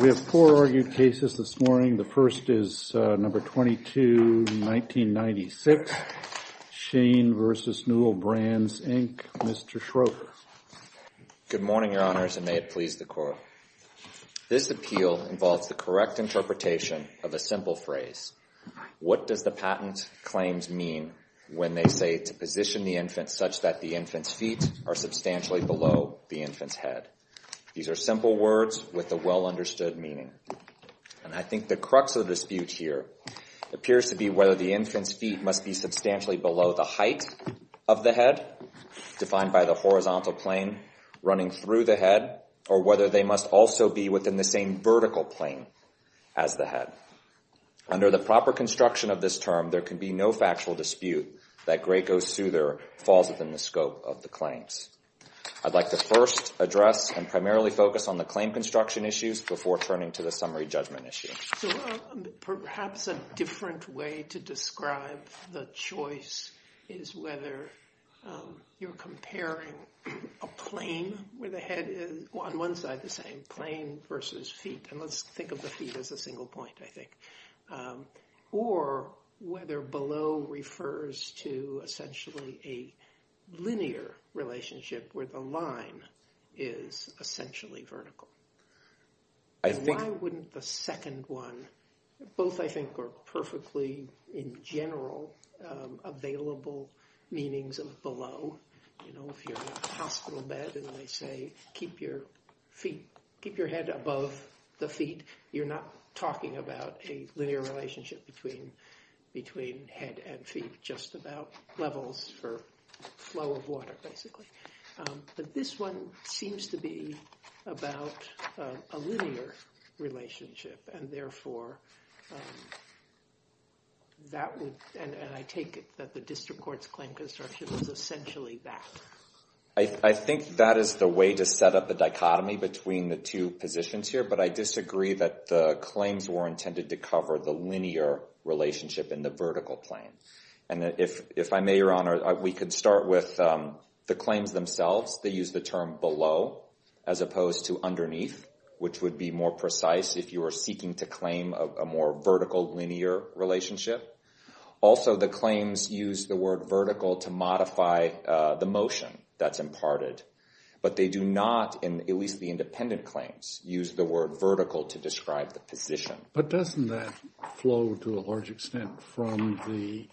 We have four argued cases this morning. The first is number 22, 1996. Shane versus Newell Brands, Inc. Mr. Schroeder. Good morning, Your Honors, and may it please the Court. This appeal involves the correct interpretation of a simple phrase. What does the patent claims mean when they say to position the infant such that the infant's feet are substantially below the infant's head? These are simple words with a well-understood meaning. And I think the crux of the dispute here appears to be whether the infant's feet must be substantially below the height of the head, defined by the horizontal plane running through the head, or whether they must also be within the same vertical plane as the head. Under the proper construction of this term, there can be no factual dispute that Graco Souther falls within the scope of the claims. I'd like to first address and primarily focus on the claim construction issues before turning to the summary judgment issue. Perhaps a different way to describe the choice is whether you're comparing a plane where the head is on one side the same, plane versus feet. And let's think of the feet as a single point, I think. Or whether below refers to essentially a linear relationship where the line is essentially vertical. Why wouldn't the second one, both, I think, are perfectly, in general, available meanings of below? If you're in a hospital bed and they say, keep your head above the feet, you're not talking about a linear relationship between head and feet, just about levels for flow of water, basically. But this one seems to be about a linear relationship. And therefore, that would, and I take it that the district court's claim construction was essentially that. I think that is the way to set up the dichotomy between the two positions here. But I disagree that the claims were relationship in the vertical plane. And if I may, Your Honor, we could start with the claims themselves. They use the term below, as opposed to underneath, which would be more precise if you were seeking to claim a more vertical, linear relationship. Also, the claims use the word vertical to modify the motion that's imparted. But they do not, in at least the independent claims, use the word vertical to describe the position. But doesn't that flow to a large extent from the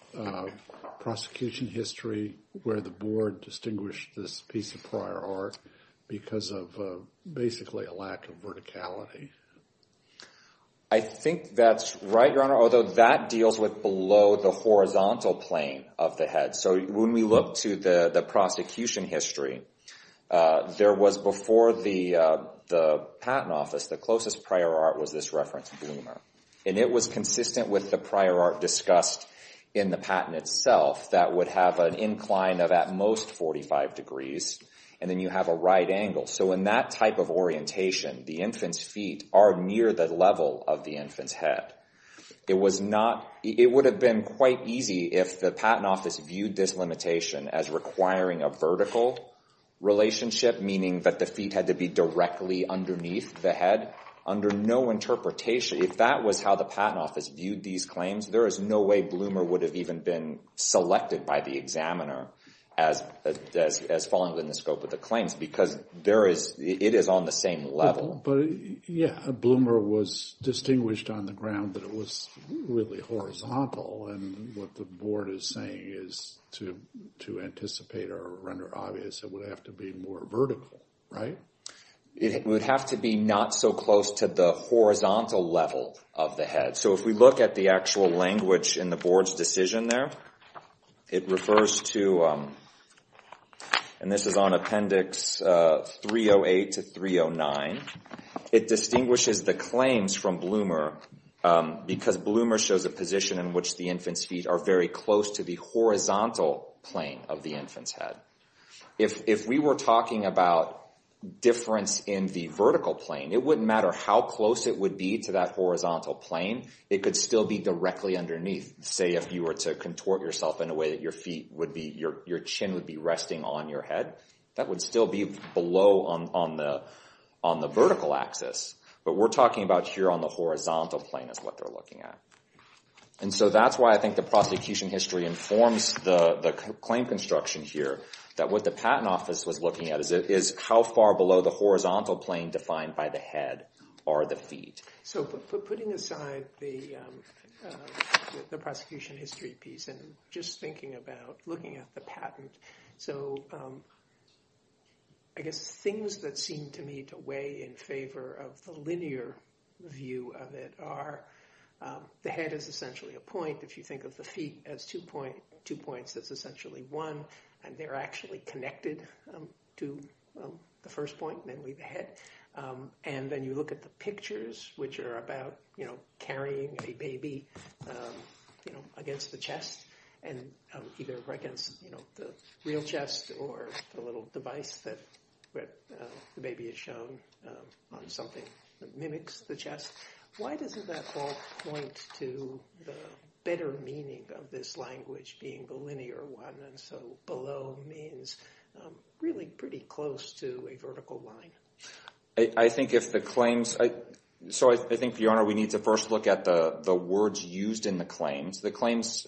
prosecution history, where the board distinguished this piece of prior art because of basically a lack of verticality? I think that's right, Your Honor, although that deals with below the horizontal plane of the head. So when we look to the prosecution history, there was before the patent office, the closest prior art was this reference boomer. And it was consistent with the prior art discussed in the patent itself that would have an incline of at most 45 degrees, and then you have a right angle. So in that type of orientation, the infant's feet are near the level of the infant's head. It was not, it would have been quite easy if the patent office viewed this limitation as requiring a vertical relationship, meaning that the feet had to be directly underneath the head, under no interpretation. If that was how the patent office viewed these claims, there is no way Bloomer would have even been selected by the examiner as following within the scope of the claims, because it is on the same level. But yeah, Bloomer was distinguished on the ground that it was really horizontal. And what the board is saying is to anticipate or render obvious, it would have to be more vertical, right? It would have to be not so close to the horizontal level of the head. So if we look at the actual language in the board's decision there, it refers to, and this is on appendix 308 to 309, it distinguishes the claims from Bloomer because Bloomer shows a position in which the infant's feet are very close to the horizontal plane of the infant's head. If we were talking about difference in the vertical plane, it wouldn't matter how close it would be to that horizontal plane. It could still be directly underneath, say if you were to contort yourself in a way that your feet would be, your chin would be resting on your head. That would still be below on the vertical axis. But we're talking about here on the horizontal plane is what they're looking at. And so that's why I think the prosecution history informs the claim construction here, that what the patent office was looking at is how far below the horizontal plane defined by the head are the feet. So putting aside the prosecution history piece and just thinking about looking at the patent, so I guess things that seem to me to weigh in favor of the linear view of it are the head is essentially a point. If you think of the feet as two points, that's essentially one. And they're actually connected to the first point, namely the head. And then you look at the pictures, which are about carrying a baby against the chest and either against the real chest or the little device that the baby is shown on something that mimics the chest. Why doesn't that point to the better meaning of this language being the linear one? And so below means really pretty close to a vertical line. I think if the claims, so I think, Your Honor, we need to first look at the words used in the claims. The claims,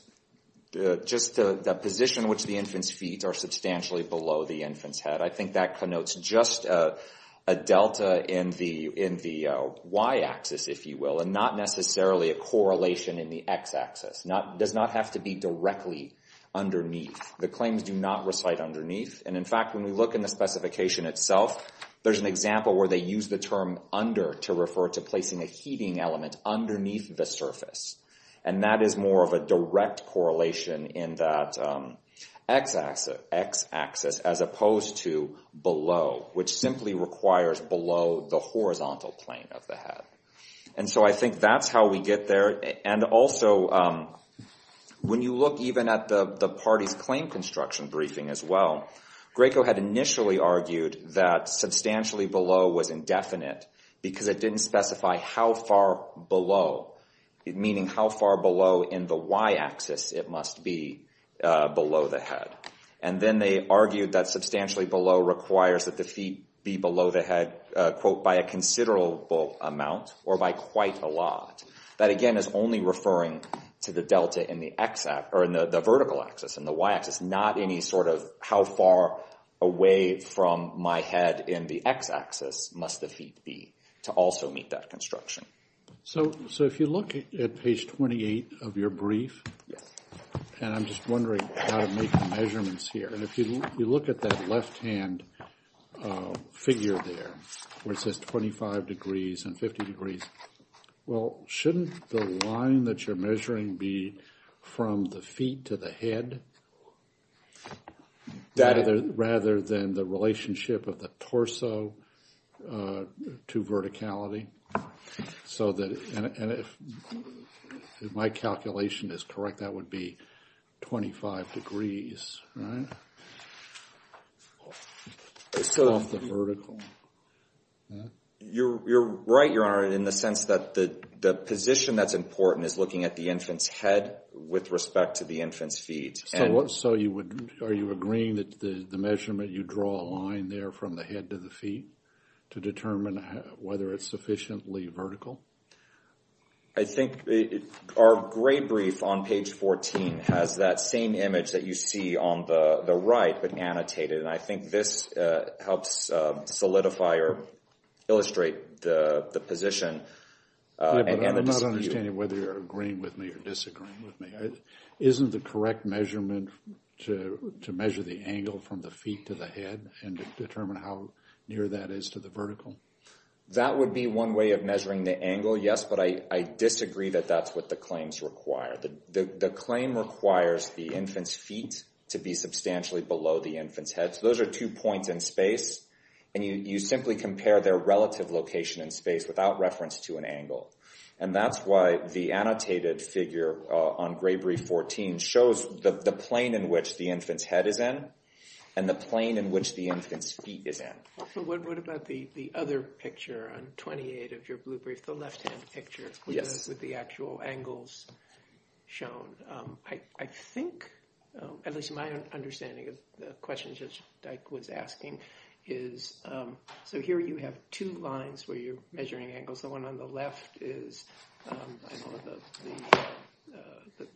just the position which the infant's feet are substantially below the infant's head, I think that connotes just a delta in the y-axis, if you will, and not necessarily a correlation in the x-axis. Does not have to be directly underneath. The claims do not recite underneath. And in fact, when we look in the specification itself, there's an example where they use the term under to refer to placing a heating element underneath the surface. And that is more of a direct correlation in that x-axis as opposed to below, which simply requires below the horizontal plane of the head. And so I think that's how we get there. And also, when you look even at the party's claim construction briefing as well, Graco had initially argued that substantially below was indefinite because it didn't specify how far below, meaning how far below in the y-axis it must be below the head. And then they argued that substantially below requires that the feet be below the head, quote, by a considerable amount or by quite a lot. That, again, is only referring to the delta in the x-axis, or in the vertical axis, in the y-axis, not any sort of how far away from my head in the x-axis must the feet be to also meet that construction. So if you look at page 28 of your brief, and I'm just wondering how to make the measurements here. And if you look at that left-hand figure there, where it says 25 degrees and 50 degrees, well, shouldn't the line that you're measuring be from the feet to the head rather than the relationship of the torso to verticality? So that, and if my calculation is correct, that would be 25 degrees, right, off the vertical. You're right, Your Honor, in the sense that the position that's important is looking at the infant's head with respect to the infant's feet. So you would, are you agreeing that the measurement, you draw a line there from the head to the feet to determine whether it's sufficiently vertical? I think our gray brief on page 14 has that same image that you see on the right, but annotated. And I think this helps solidify or illustrate the position. Yeah, but I'm not understanding whether you're agreeing with me or disagreeing with me. Isn't the correct measurement to measure the angle from the feet to the head and determine how near that is to the vertical? That would be one way of measuring the angle, yes. But I disagree that that's what the claims require. The claim requires the infant's feet to be substantially below the infant's head. So those are two points in space. And you simply compare their relative location in space without reference to an angle. And that's why the annotated figure on gray brief 14 shows the plane in which the infant's head is in and the plane in which the infant's feet is in. What about the other picture on 28 of your blue brief, the left-hand picture with the actual angles shown? I think, at least my understanding of the questions that Dyke was asking is, so here you have two lines where you're measuring angles. The one on the left is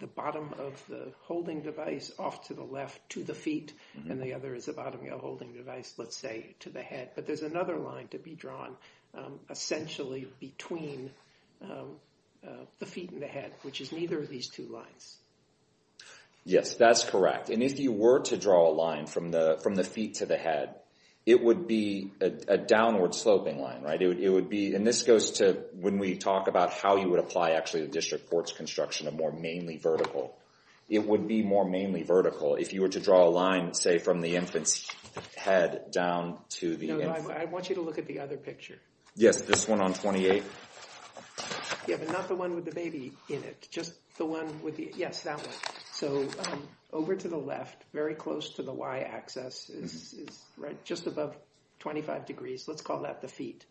the bottom of the holding device off to the left to the feet, and the other is the bottom of the holding device, let's say, to the head. But there's another line to be drawn, essentially, between the feet and the head, which is neither of these two lines. Yes, that's correct. And if you were to draw a line from the feet to the head, it would be a downward-sloping line. And this goes to when we talk about how you would apply, actually, the district court's construction of more mainly vertical. It would be more mainly vertical if you were to draw a line, say, from the infant's head down to the infant's head. I want you to look at the other picture. Yes, this one on 28. Yeah, but not the one with the baby in it. Just the one with the, yes, that one. So over to the left, very close to the y-axis, just above 25 degrees. Let's call that the feet.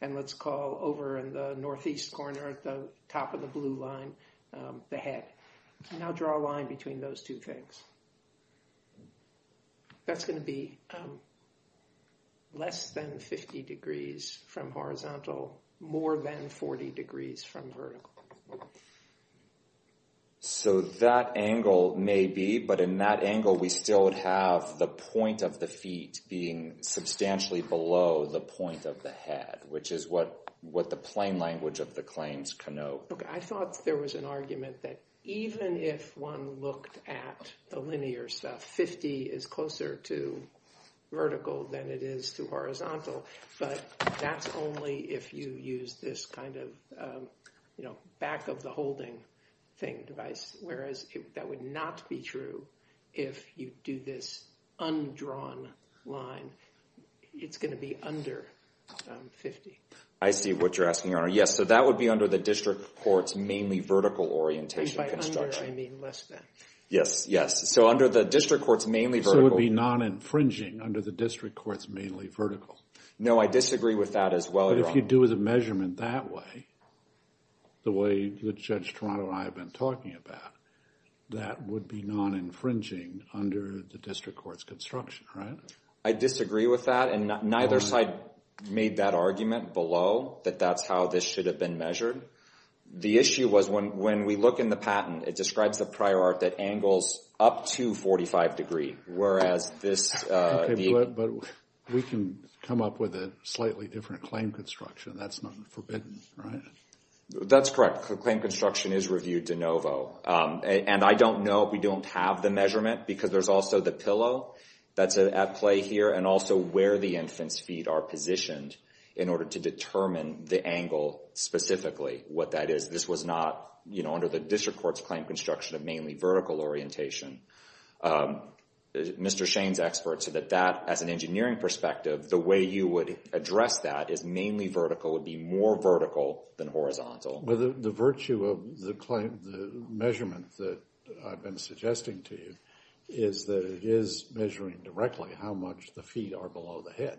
And let's call over in the northeast corner at the top of the blue line the head. Now draw a line between those two things. That's going to be less than 50 degrees from horizontal, more than 40 degrees from vertical. So that angle may be, but in that angle, we still would have the point of the feet being substantially below the point of the head, which is what the plain language of the claims connote. I thought there was an argument that even if one looked at the linear stuff, 50 is closer to vertical than it is to horizontal. But that's only if you use this kind of back of the holding thing device, whereas that would not be true if you do this undrawn line. It's going to be under 50. I see what you're asking, Your Honor. Yes, so that would be under the district court's mainly vertical orientation construction. And by under, I mean less than. Yes, yes. So under the district court's mainly vertical. So it would be non-infringing under the district court's mainly vertical. No, I disagree with that as well, Your Honor. But if you do the measurement that way, the way that Judge Toronto and I have been talking about, that would be non-infringing under the district court's construction, right? I disagree with that. And neither side made that argument below, that that's how this should have been measured. The issue was when we look in the patent, it describes the prior art that angles up to 45 degree, whereas this view. But we can come up with a slightly different claim construction. That's not forbidden, right? That's correct. Claim construction is reviewed de novo. And I don't know if we don't have the measurement, because there's also the pillow. That's at play here, and also where the infant's feet are positioned in order to determine the angle specifically, what that is. This was not under the district court's claim construction of mainly vertical orientation. Mr. Shane's expert said that as an engineering perspective, the way you would address that is mainly vertical, would be more vertical than horizontal. Well, the virtue of the claim, the measurement that I've been suggesting to you, is that it is measuring directly how much the feet are below the head.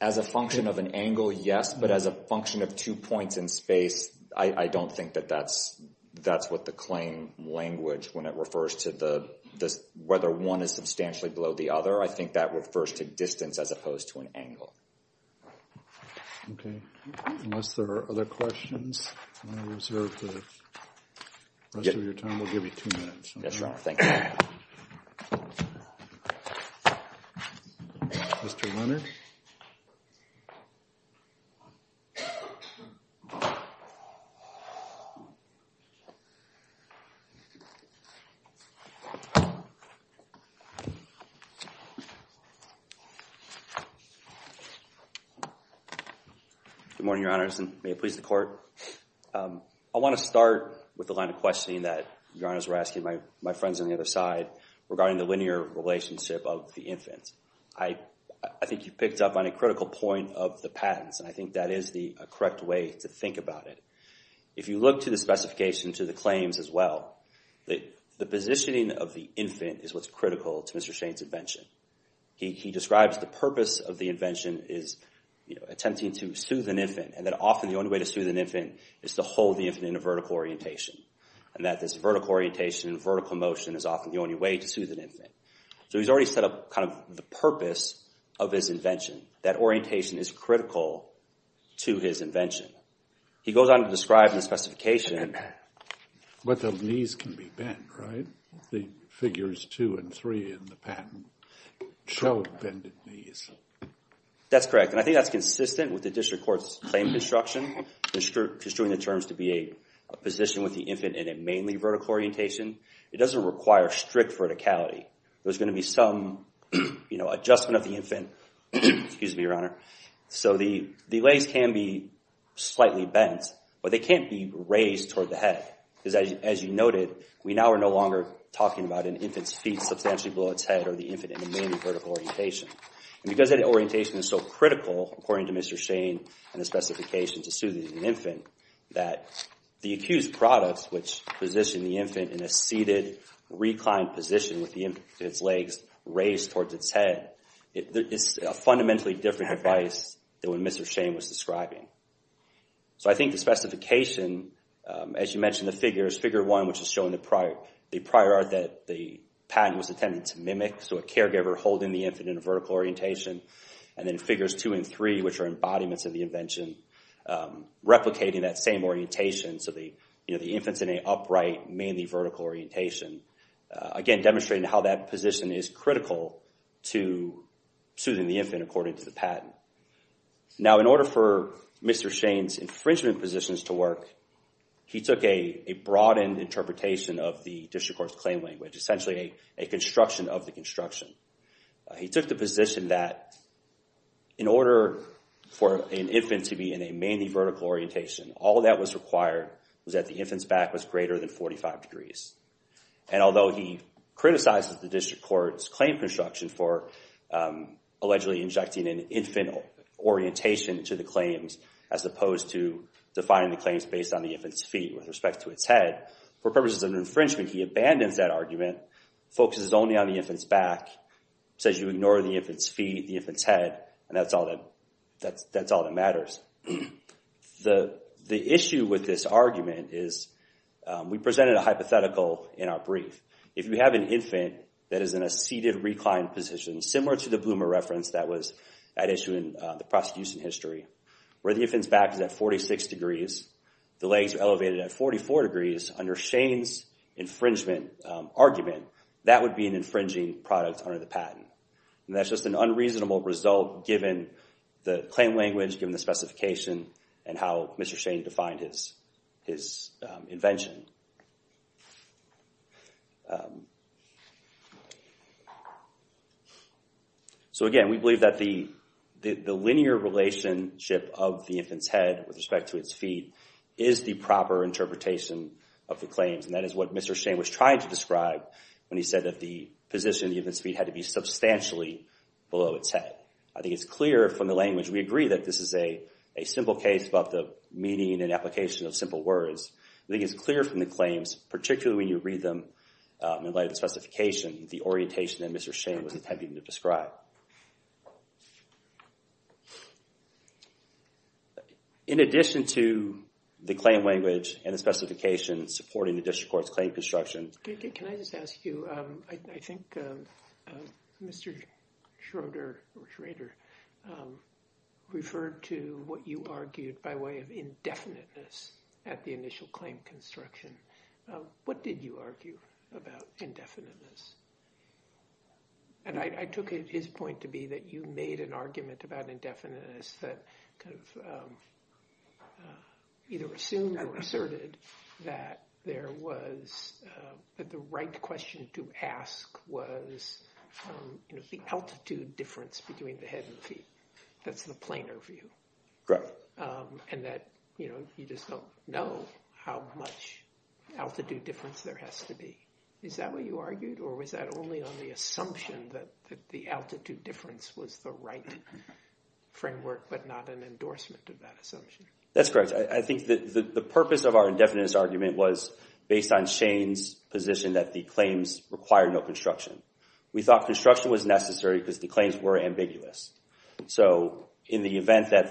As a function of an angle, yes. But as a function of two points in space, I don't think that that's what the claim language, when it refers to whether one is substantially below the other, I think that refers to distance as opposed to an angle. OK. Unless there are other questions, I'm going to reserve the rest of your time. We'll give you two minutes. Yes, sir. Thank you. Mr. Leonard? Good morning, Your Honors. And may it please the court. I want to start with the line of questioning that Your Honors were asking my friends on the other side regarding the linear relationship of the infant. I think you picked up on a critical point of the patents. And I think that is the correct way to think about it. If you look to the specification to the claims as well, the positioning of the infant is what's critical to Mr. Shane's invention. He describes the purpose of the invention as attempting to soothe an infant. And that often the only way to soothe an infant is to hold the infant in a vertical orientation. And that this vertical orientation and vertical motion is often the only way to soothe an infant. So he's already set up kind of the purpose of his invention. That orientation is critical to his invention. He goes on to describe in the specification what the knees can be bent, right? The figures two and three in the patent show bended knees. That's correct. And I think that's consistent with the district court's claim construction, construing the terms to be a position with the infant in a mainly vertical orientation. It doesn't require strict verticality. There's going to be some adjustment of the infant. Excuse me, Your Honor. So the legs can be slightly bent. But they can't be raised toward the head. Because as you noted, we now are no longer talking about an infant's feet substantially below its head or the infant in a mainly vertical orientation. And because that orientation is so critical, according to Mr. Shane and the specification to soothe an infant, that the accused product, which positioned the infant in a seated reclined position with the infant's legs raised towards its head, is a fundamentally different device than what Mr. Shane was describing. So I think the specification, as you mentioned the figures, figure one, which is showing the prior art that the patent was intended to mimic. So a caregiver holding the infant in a vertical orientation. And then figures two and three, which are embodiments of the invention, replicating that same orientation. So the infant's in an upright, mainly vertical orientation. is critical to soothing the infant, according to the patent. Now, in order for Mr. Shane's infringement positions to work, he took a broadened interpretation of the district court's claim language, essentially a construction of the construction. He took the position that in order for an infant to be in a mainly vertical orientation, all that was required was that the infant's back was greater than 45 degrees. And although he criticizes the district court's claim construction for allegedly injecting an infant orientation to the claims, as opposed to defining the claims based on the infant's feet with respect to its head, for purposes of infringement, he abandons that argument, focuses only on the infant's back, says you ignore the infant's feet, the infant's head, and that's all that matters. The issue with this argument is we presented a hypothetical in our brief. If you have an infant that is in a seated reclined position, similar to the Bloomer reference that was at issue in the prosecution history, where the infant's back is at 46 degrees, the legs are elevated at 44 degrees, under Shane's infringement argument, that would be an infringing product under the patent. And that's just an unreasonable result, given the claim language, given the specification, and how Mr. Shane defined his invention. So again, we believe that the linear relationship of the infant's head with respect to its feet is the proper interpretation of the claims, and that is what Mr. Shane was trying to describe when he said that the position of the infant's feet had to be substantially below its head. I think it's clear from the language. We agree that this is a simple case about the meaning and application of simple words. I think it's clear from the claims, particularly when you read them in light of the specification, the orientation that Mr. Shane was attempting to describe. In addition to the claim language and the specification supporting the district court's claim construction... Can I just ask you, I think Mr. Schroeder referred to what you argued by way of indefiniteness at the initial claim construction. What did you argue about indefiniteness? And I took his point to be that you made an argument about indefiniteness that either assumed or asserted that the right question to ask was the altitude difference between the head and feet. That's the plainer view. Correct. And that you just don't know how much altitude difference there has to be. Is that what you argued or was that only on the assumption that the altitude difference was the right framework but not an endorsement of that assumption? That's correct. I think the purpose of our indefiniteness argument was based on Shane's position that the claims required no construction. We thought construction was necessary because the claims were ambiguous. So in the event that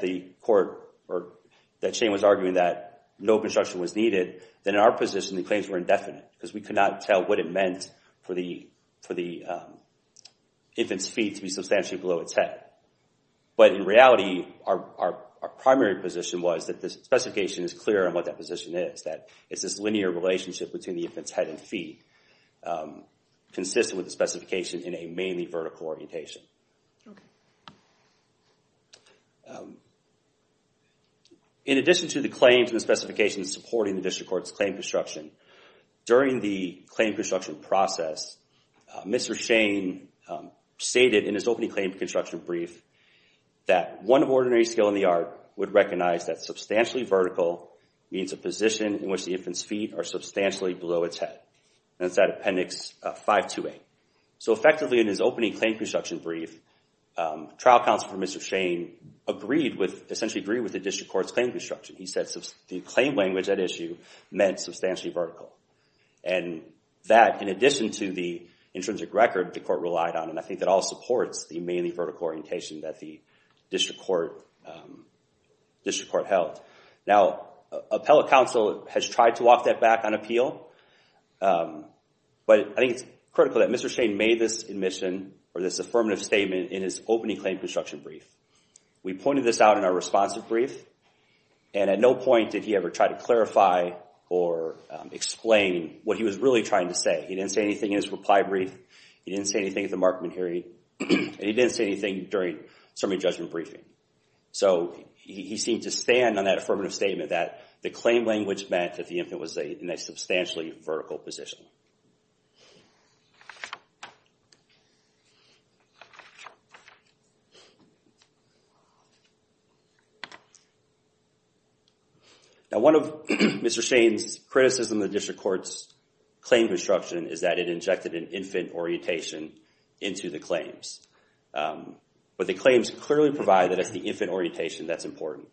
Shane was arguing that no construction was needed, then in our position the claims were indefinite because we could not tell what it meant for the infant's feet to be substantially below its head. But in reality, our primary position was that the specification is clear on what that position is, that it's this linear relationship between the infant's head and feet consistent with the specification in a mainly vertical orientation. Okay. In addition to the claims and the specifications supporting the District Court's claim construction, during the claim construction process, Mr. Shane stated in his opening claim construction brief that one of ordinary skill in the art would recognize that substantially vertical means a position in which the infant's feet are substantially below its head. And it's that Appendix 528. So effectively, in his opening claim construction brief, trial counsel for Mr. Shane essentially agreed with the District Court's claim construction. He said the claim language at issue meant substantially vertical. And that, in addition to the intrinsic record the court relied on, and I think that all supports the mainly vertical orientation that the District Court held. Now, appellate counsel has tried to walk that back on appeal, but I think it's critical that Mr. Shane made this admission or this affirmative statement in his opening claim construction brief. We pointed this out in our responsive brief, and at no point did he ever try to clarify or explain what he was really trying to say. He didn't say anything in his reply brief. He didn't say anything at the Markman hearing. And he didn't say anything during summary judgment briefing. So he seemed to stand on that affirmative statement that the claim language meant that the infant was in a substantially vertical position. Now, one of Mr. Shane's criticisms of the District Court's claim construction is that it injected an infant orientation into the claims. But the claims clearly provide that it's the infant orientation that's important.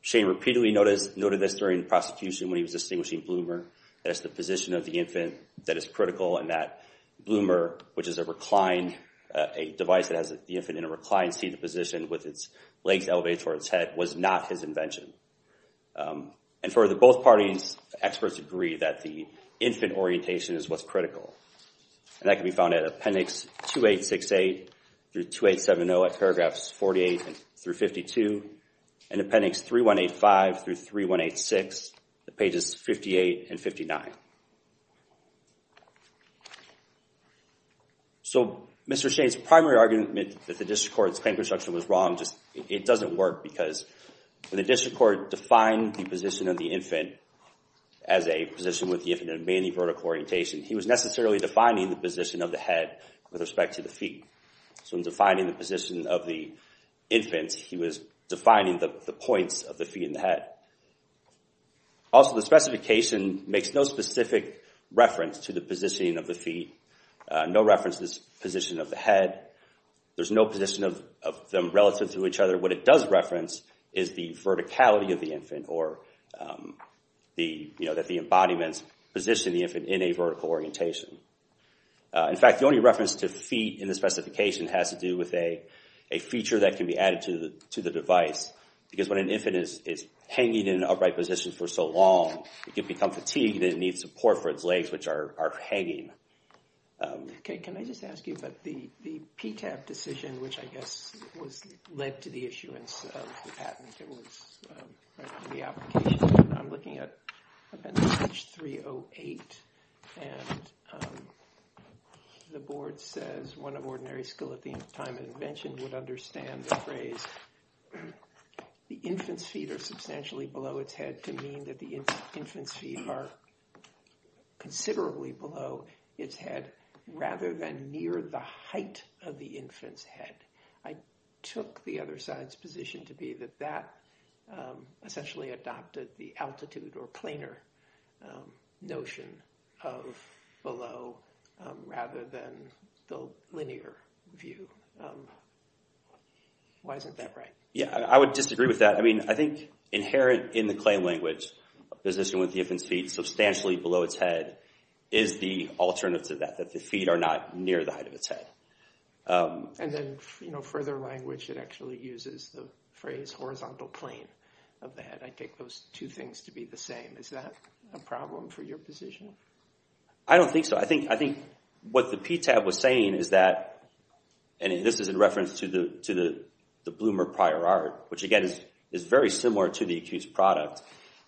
Shane repeatedly noted this during the prosecution when he was distinguishing Bloomer, that it's the position of the infant that is critical and that Bloomer, which is a reclined, a device that has the infant in a reclined seated position with its legs elevated towards its head, was not his invention. And further, both parties, experts, agree that the infant orientation is what's critical. And that can be found at appendix 2868 through 2870 and also at paragraphs 48 through 52 and appendix 3185 through 3186, pages 58 and 59. So Mr. Shane's primary argument that the District Court's claim construction was wrong, it doesn't work because when the District Court defined the position of the infant as a position with the infant in a mani-vertical orientation, he was necessarily defining the position of the head with respect to the feet. So in defining the position of the infant, he was defining the points of the feet and the head. Also, the specification makes no specific reference to the positioning of the feet, no reference to the position of the head. There's no position of them relative to each other. What it does reference is the verticality of the infant or that the embodiments position the infant in a vertical orientation. In fact, the only reference to feet in the specification has to do with a feature that can be added to the device because when an infant is hanging in an upright position for so long, it can become fatigued and it needs support for its legs, which are hanging. Okay, can I just ask you about the PTAB decision, which I guess led to the issuance of the patent that was in the application. I'm looking at appendix 308 and the board says, one of ordinary skill at the time of invention would understand the phrase, the infant's feet are substantially below its head to mean that the infant's feet are considerably below its head rather than near the height of the infant's head. I took the other side's position to be that essentially adopted the altitude or planar notion of below rather than the linear view. Why isn't that right? Yeah, I would disagree with that. I mean, I think inherent in the claim language position with the infant's feet substantially below its head is the alternative to that, that the feet are not near the height of its head. And then, you know, further language that actually uses the phrase horizontal plane of the head. I take those two things to be the same. Is that a problem for your position? I don't think so. I think what the PTAB was saying is that, and this is in reference to the Bloomer prior art, which again is very similar to the accused product.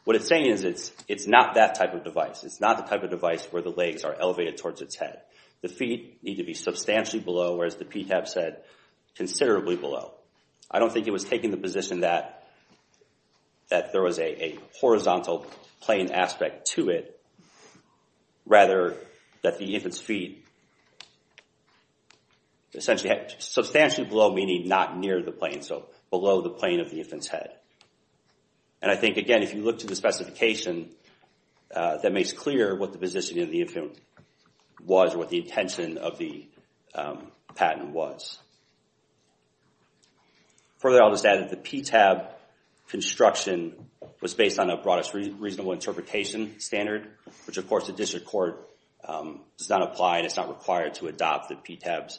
What it's saying is it's not that type of device. It's not the type of device where the legs are elevated towards its head. The feet need to be substantially below, whereas the PTAB said considerably below. I don't think it was taking the position that there was a horizontal plane aspect to it, rather that the infant's feet essentially had substantially below meaning not near the plane, so below the plane of the infant's head. And I think, again, if you look to the specification that makes clear what the position of the infant was or what the intention of the patent was. Further, I'll just add that the PTAB construction was based on a broadest reasonable interpretation standard, which of course the district court does not apply and it's not required to adopt the PTAB's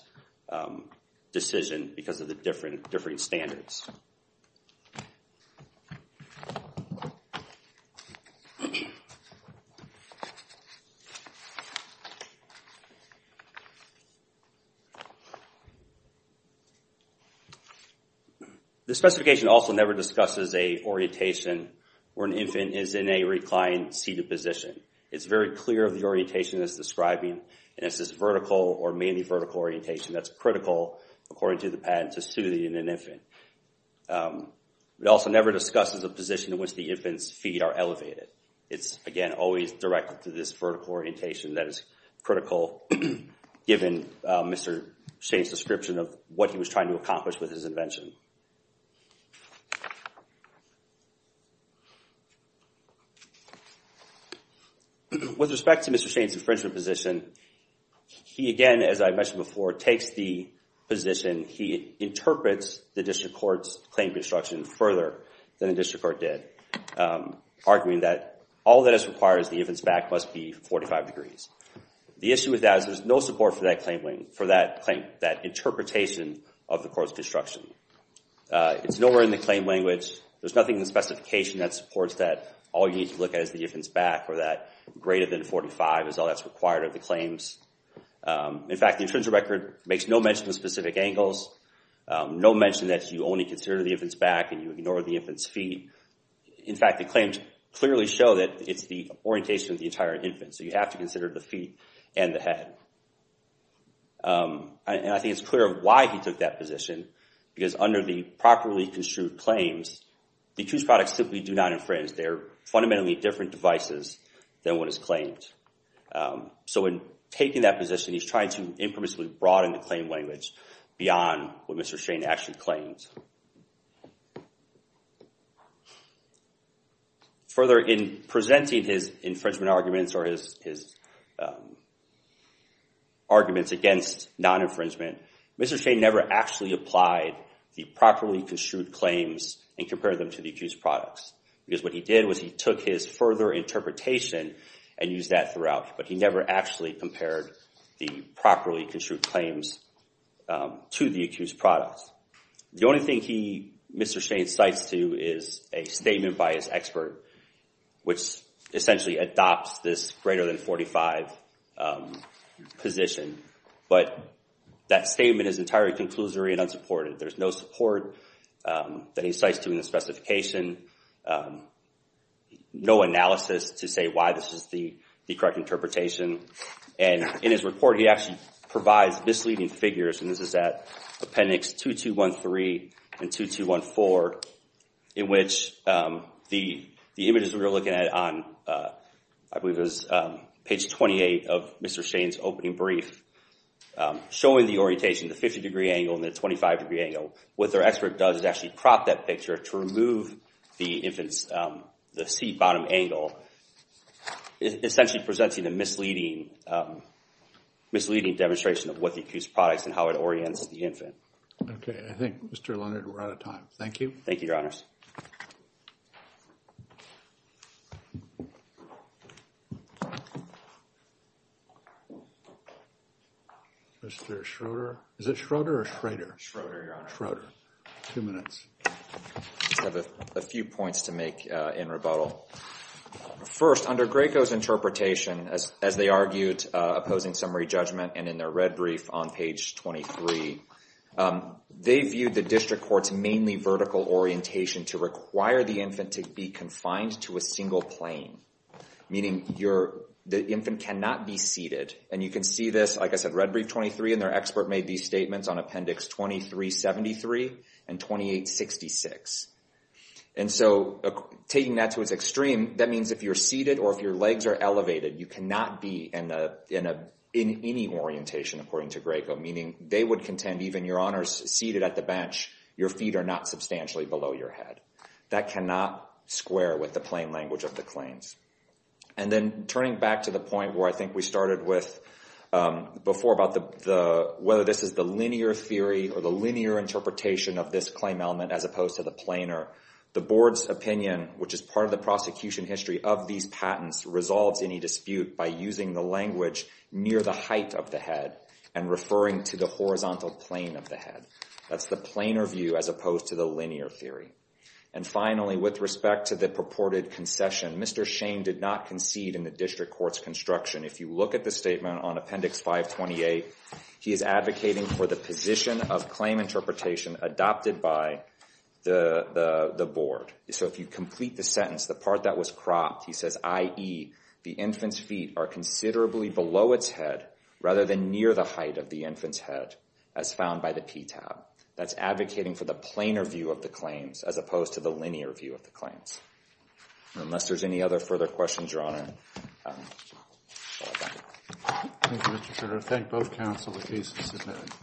decision because of the differing standards. The specification also never discusses a orientation where an infant is in a reclined seated position. It's very clear of the orientation it's describing and it's this vertical or mainly vertical orientation that's critical, according to the patent, to soothing an infant. It also never discusses a position in which the infant's feet are elevated. that is critical to soothing an infant. Given Mr. Shane's description of what he was trying to accomplish with his invention. With respect to Mr. Shane's infringement position, he again, as I mentioned before, takes the position, he interprets the district court's claim construction further than the district court did, arguing that all that is required is the infant's back must be 45 degrees. The issue with that is there's no support for that claim, for that interpretation of the court's construction. It's nowhere in the claim language. There's nothing in the specification that supports that all you need to look at is the infant's back or that greater than 45 is all that's required of the claims. In fact, the intrinsic record makes no mention of specific angles, no mention that you only consider the infant's back and you ignore the infant's feet. In fact, the claims clearly show that it's the orientation of the entire infant, so you have to consider the feet and the head. And I think it's clear why he took that position, because under the properly construed claims, the accused products simply do not infringe. They're fundamentally different devices than what is claimed. So in taking that position, he's trying to impermissibly broaden the claim language beyond what Mr. Shane actually claims. Further, in presenting his infringement arguments or his arguments against non-infringement, Mr. Shane never actually applied the properly construed claims and compared them to the accused products, because what he did was he took his further interpretation and used that throughout, but he never actually compared the properly construed claims to the accused products. The only thing Mr. Shane cites to is a statement by his expert, which essentially adopts this greater than 45 position. But that statement is entirely conclusory and unsupported. There's no support that he cites to in the specification, no analysis to say why this is the correct interpretation. And in his report, he actually provides misleading figures, and this is at appendix 2213 and 2214, in which the images we were looking at on, I believe it was page 28 of Mr. Shane's opening brief, showing the orientation, the 50-degree angle and the 25-degree angle, what their expert does is actually prop that picture to remove the infant's, the seat bottom angle, essentially presenting a misleading demonstration of what the accused products and how it orients the infant. Okay, I think, Mr. Leonard, we're out of time. Thank you. Thank you, Your Honors. Mr. Schroeder. Is it Schroeder or Schrader? Schroeder, Your Honor. Schroeder. Two minutes. I have a few points to make in rebuttal. First, under Graco's interpretation, as they argued opposing summary judgment, and in their red brief on page 23, they viewed the district court's mainly vertical orientation to require the infant to be confined to a single plane, meaning the infant cannot be seated. And you can see this, like I said, red brief 23, and their expert made these statements on appendix 2373 and 2866. And so taking that to its extreme, that means if you're seated or if your legs are elevated, you cannot be in any orientation, according to Graco, meaning they would contend, even Your Honors, seated at the bench, your feet are not substantially below your head. That cannot square with the plain language of the claims. And then turning back to the point where I think we started with before about whether this is the linear theory or the linear interpretation of this claim element as opposed to the planar, the board's opinion, which is part of the prosecution history of these patents, resolves any dispute by using the language near the height of the head and referring to the horizontal plane of the head. That's the planar view as opposed to the linear theory. And finally, with respect to the purported concession, Mr. Shane did not concede in the district court's construction. If you look at the statement on appendix 528, he is advocating for the position of claim interpretation adopted by the board. So if you complete the sentence, the part that was cropped, he says, i.e., the infant's feet are considerably below its head rather than near the height of the infant's head as found by the PTAB. That's advocating for the planar view of the claims as opposed to the linear view of the claims. Unless there's any other further questions, Your Honor, I'll call it a night. Thank you, Mr. Schroeder. Thank both counsel. The case is submitted.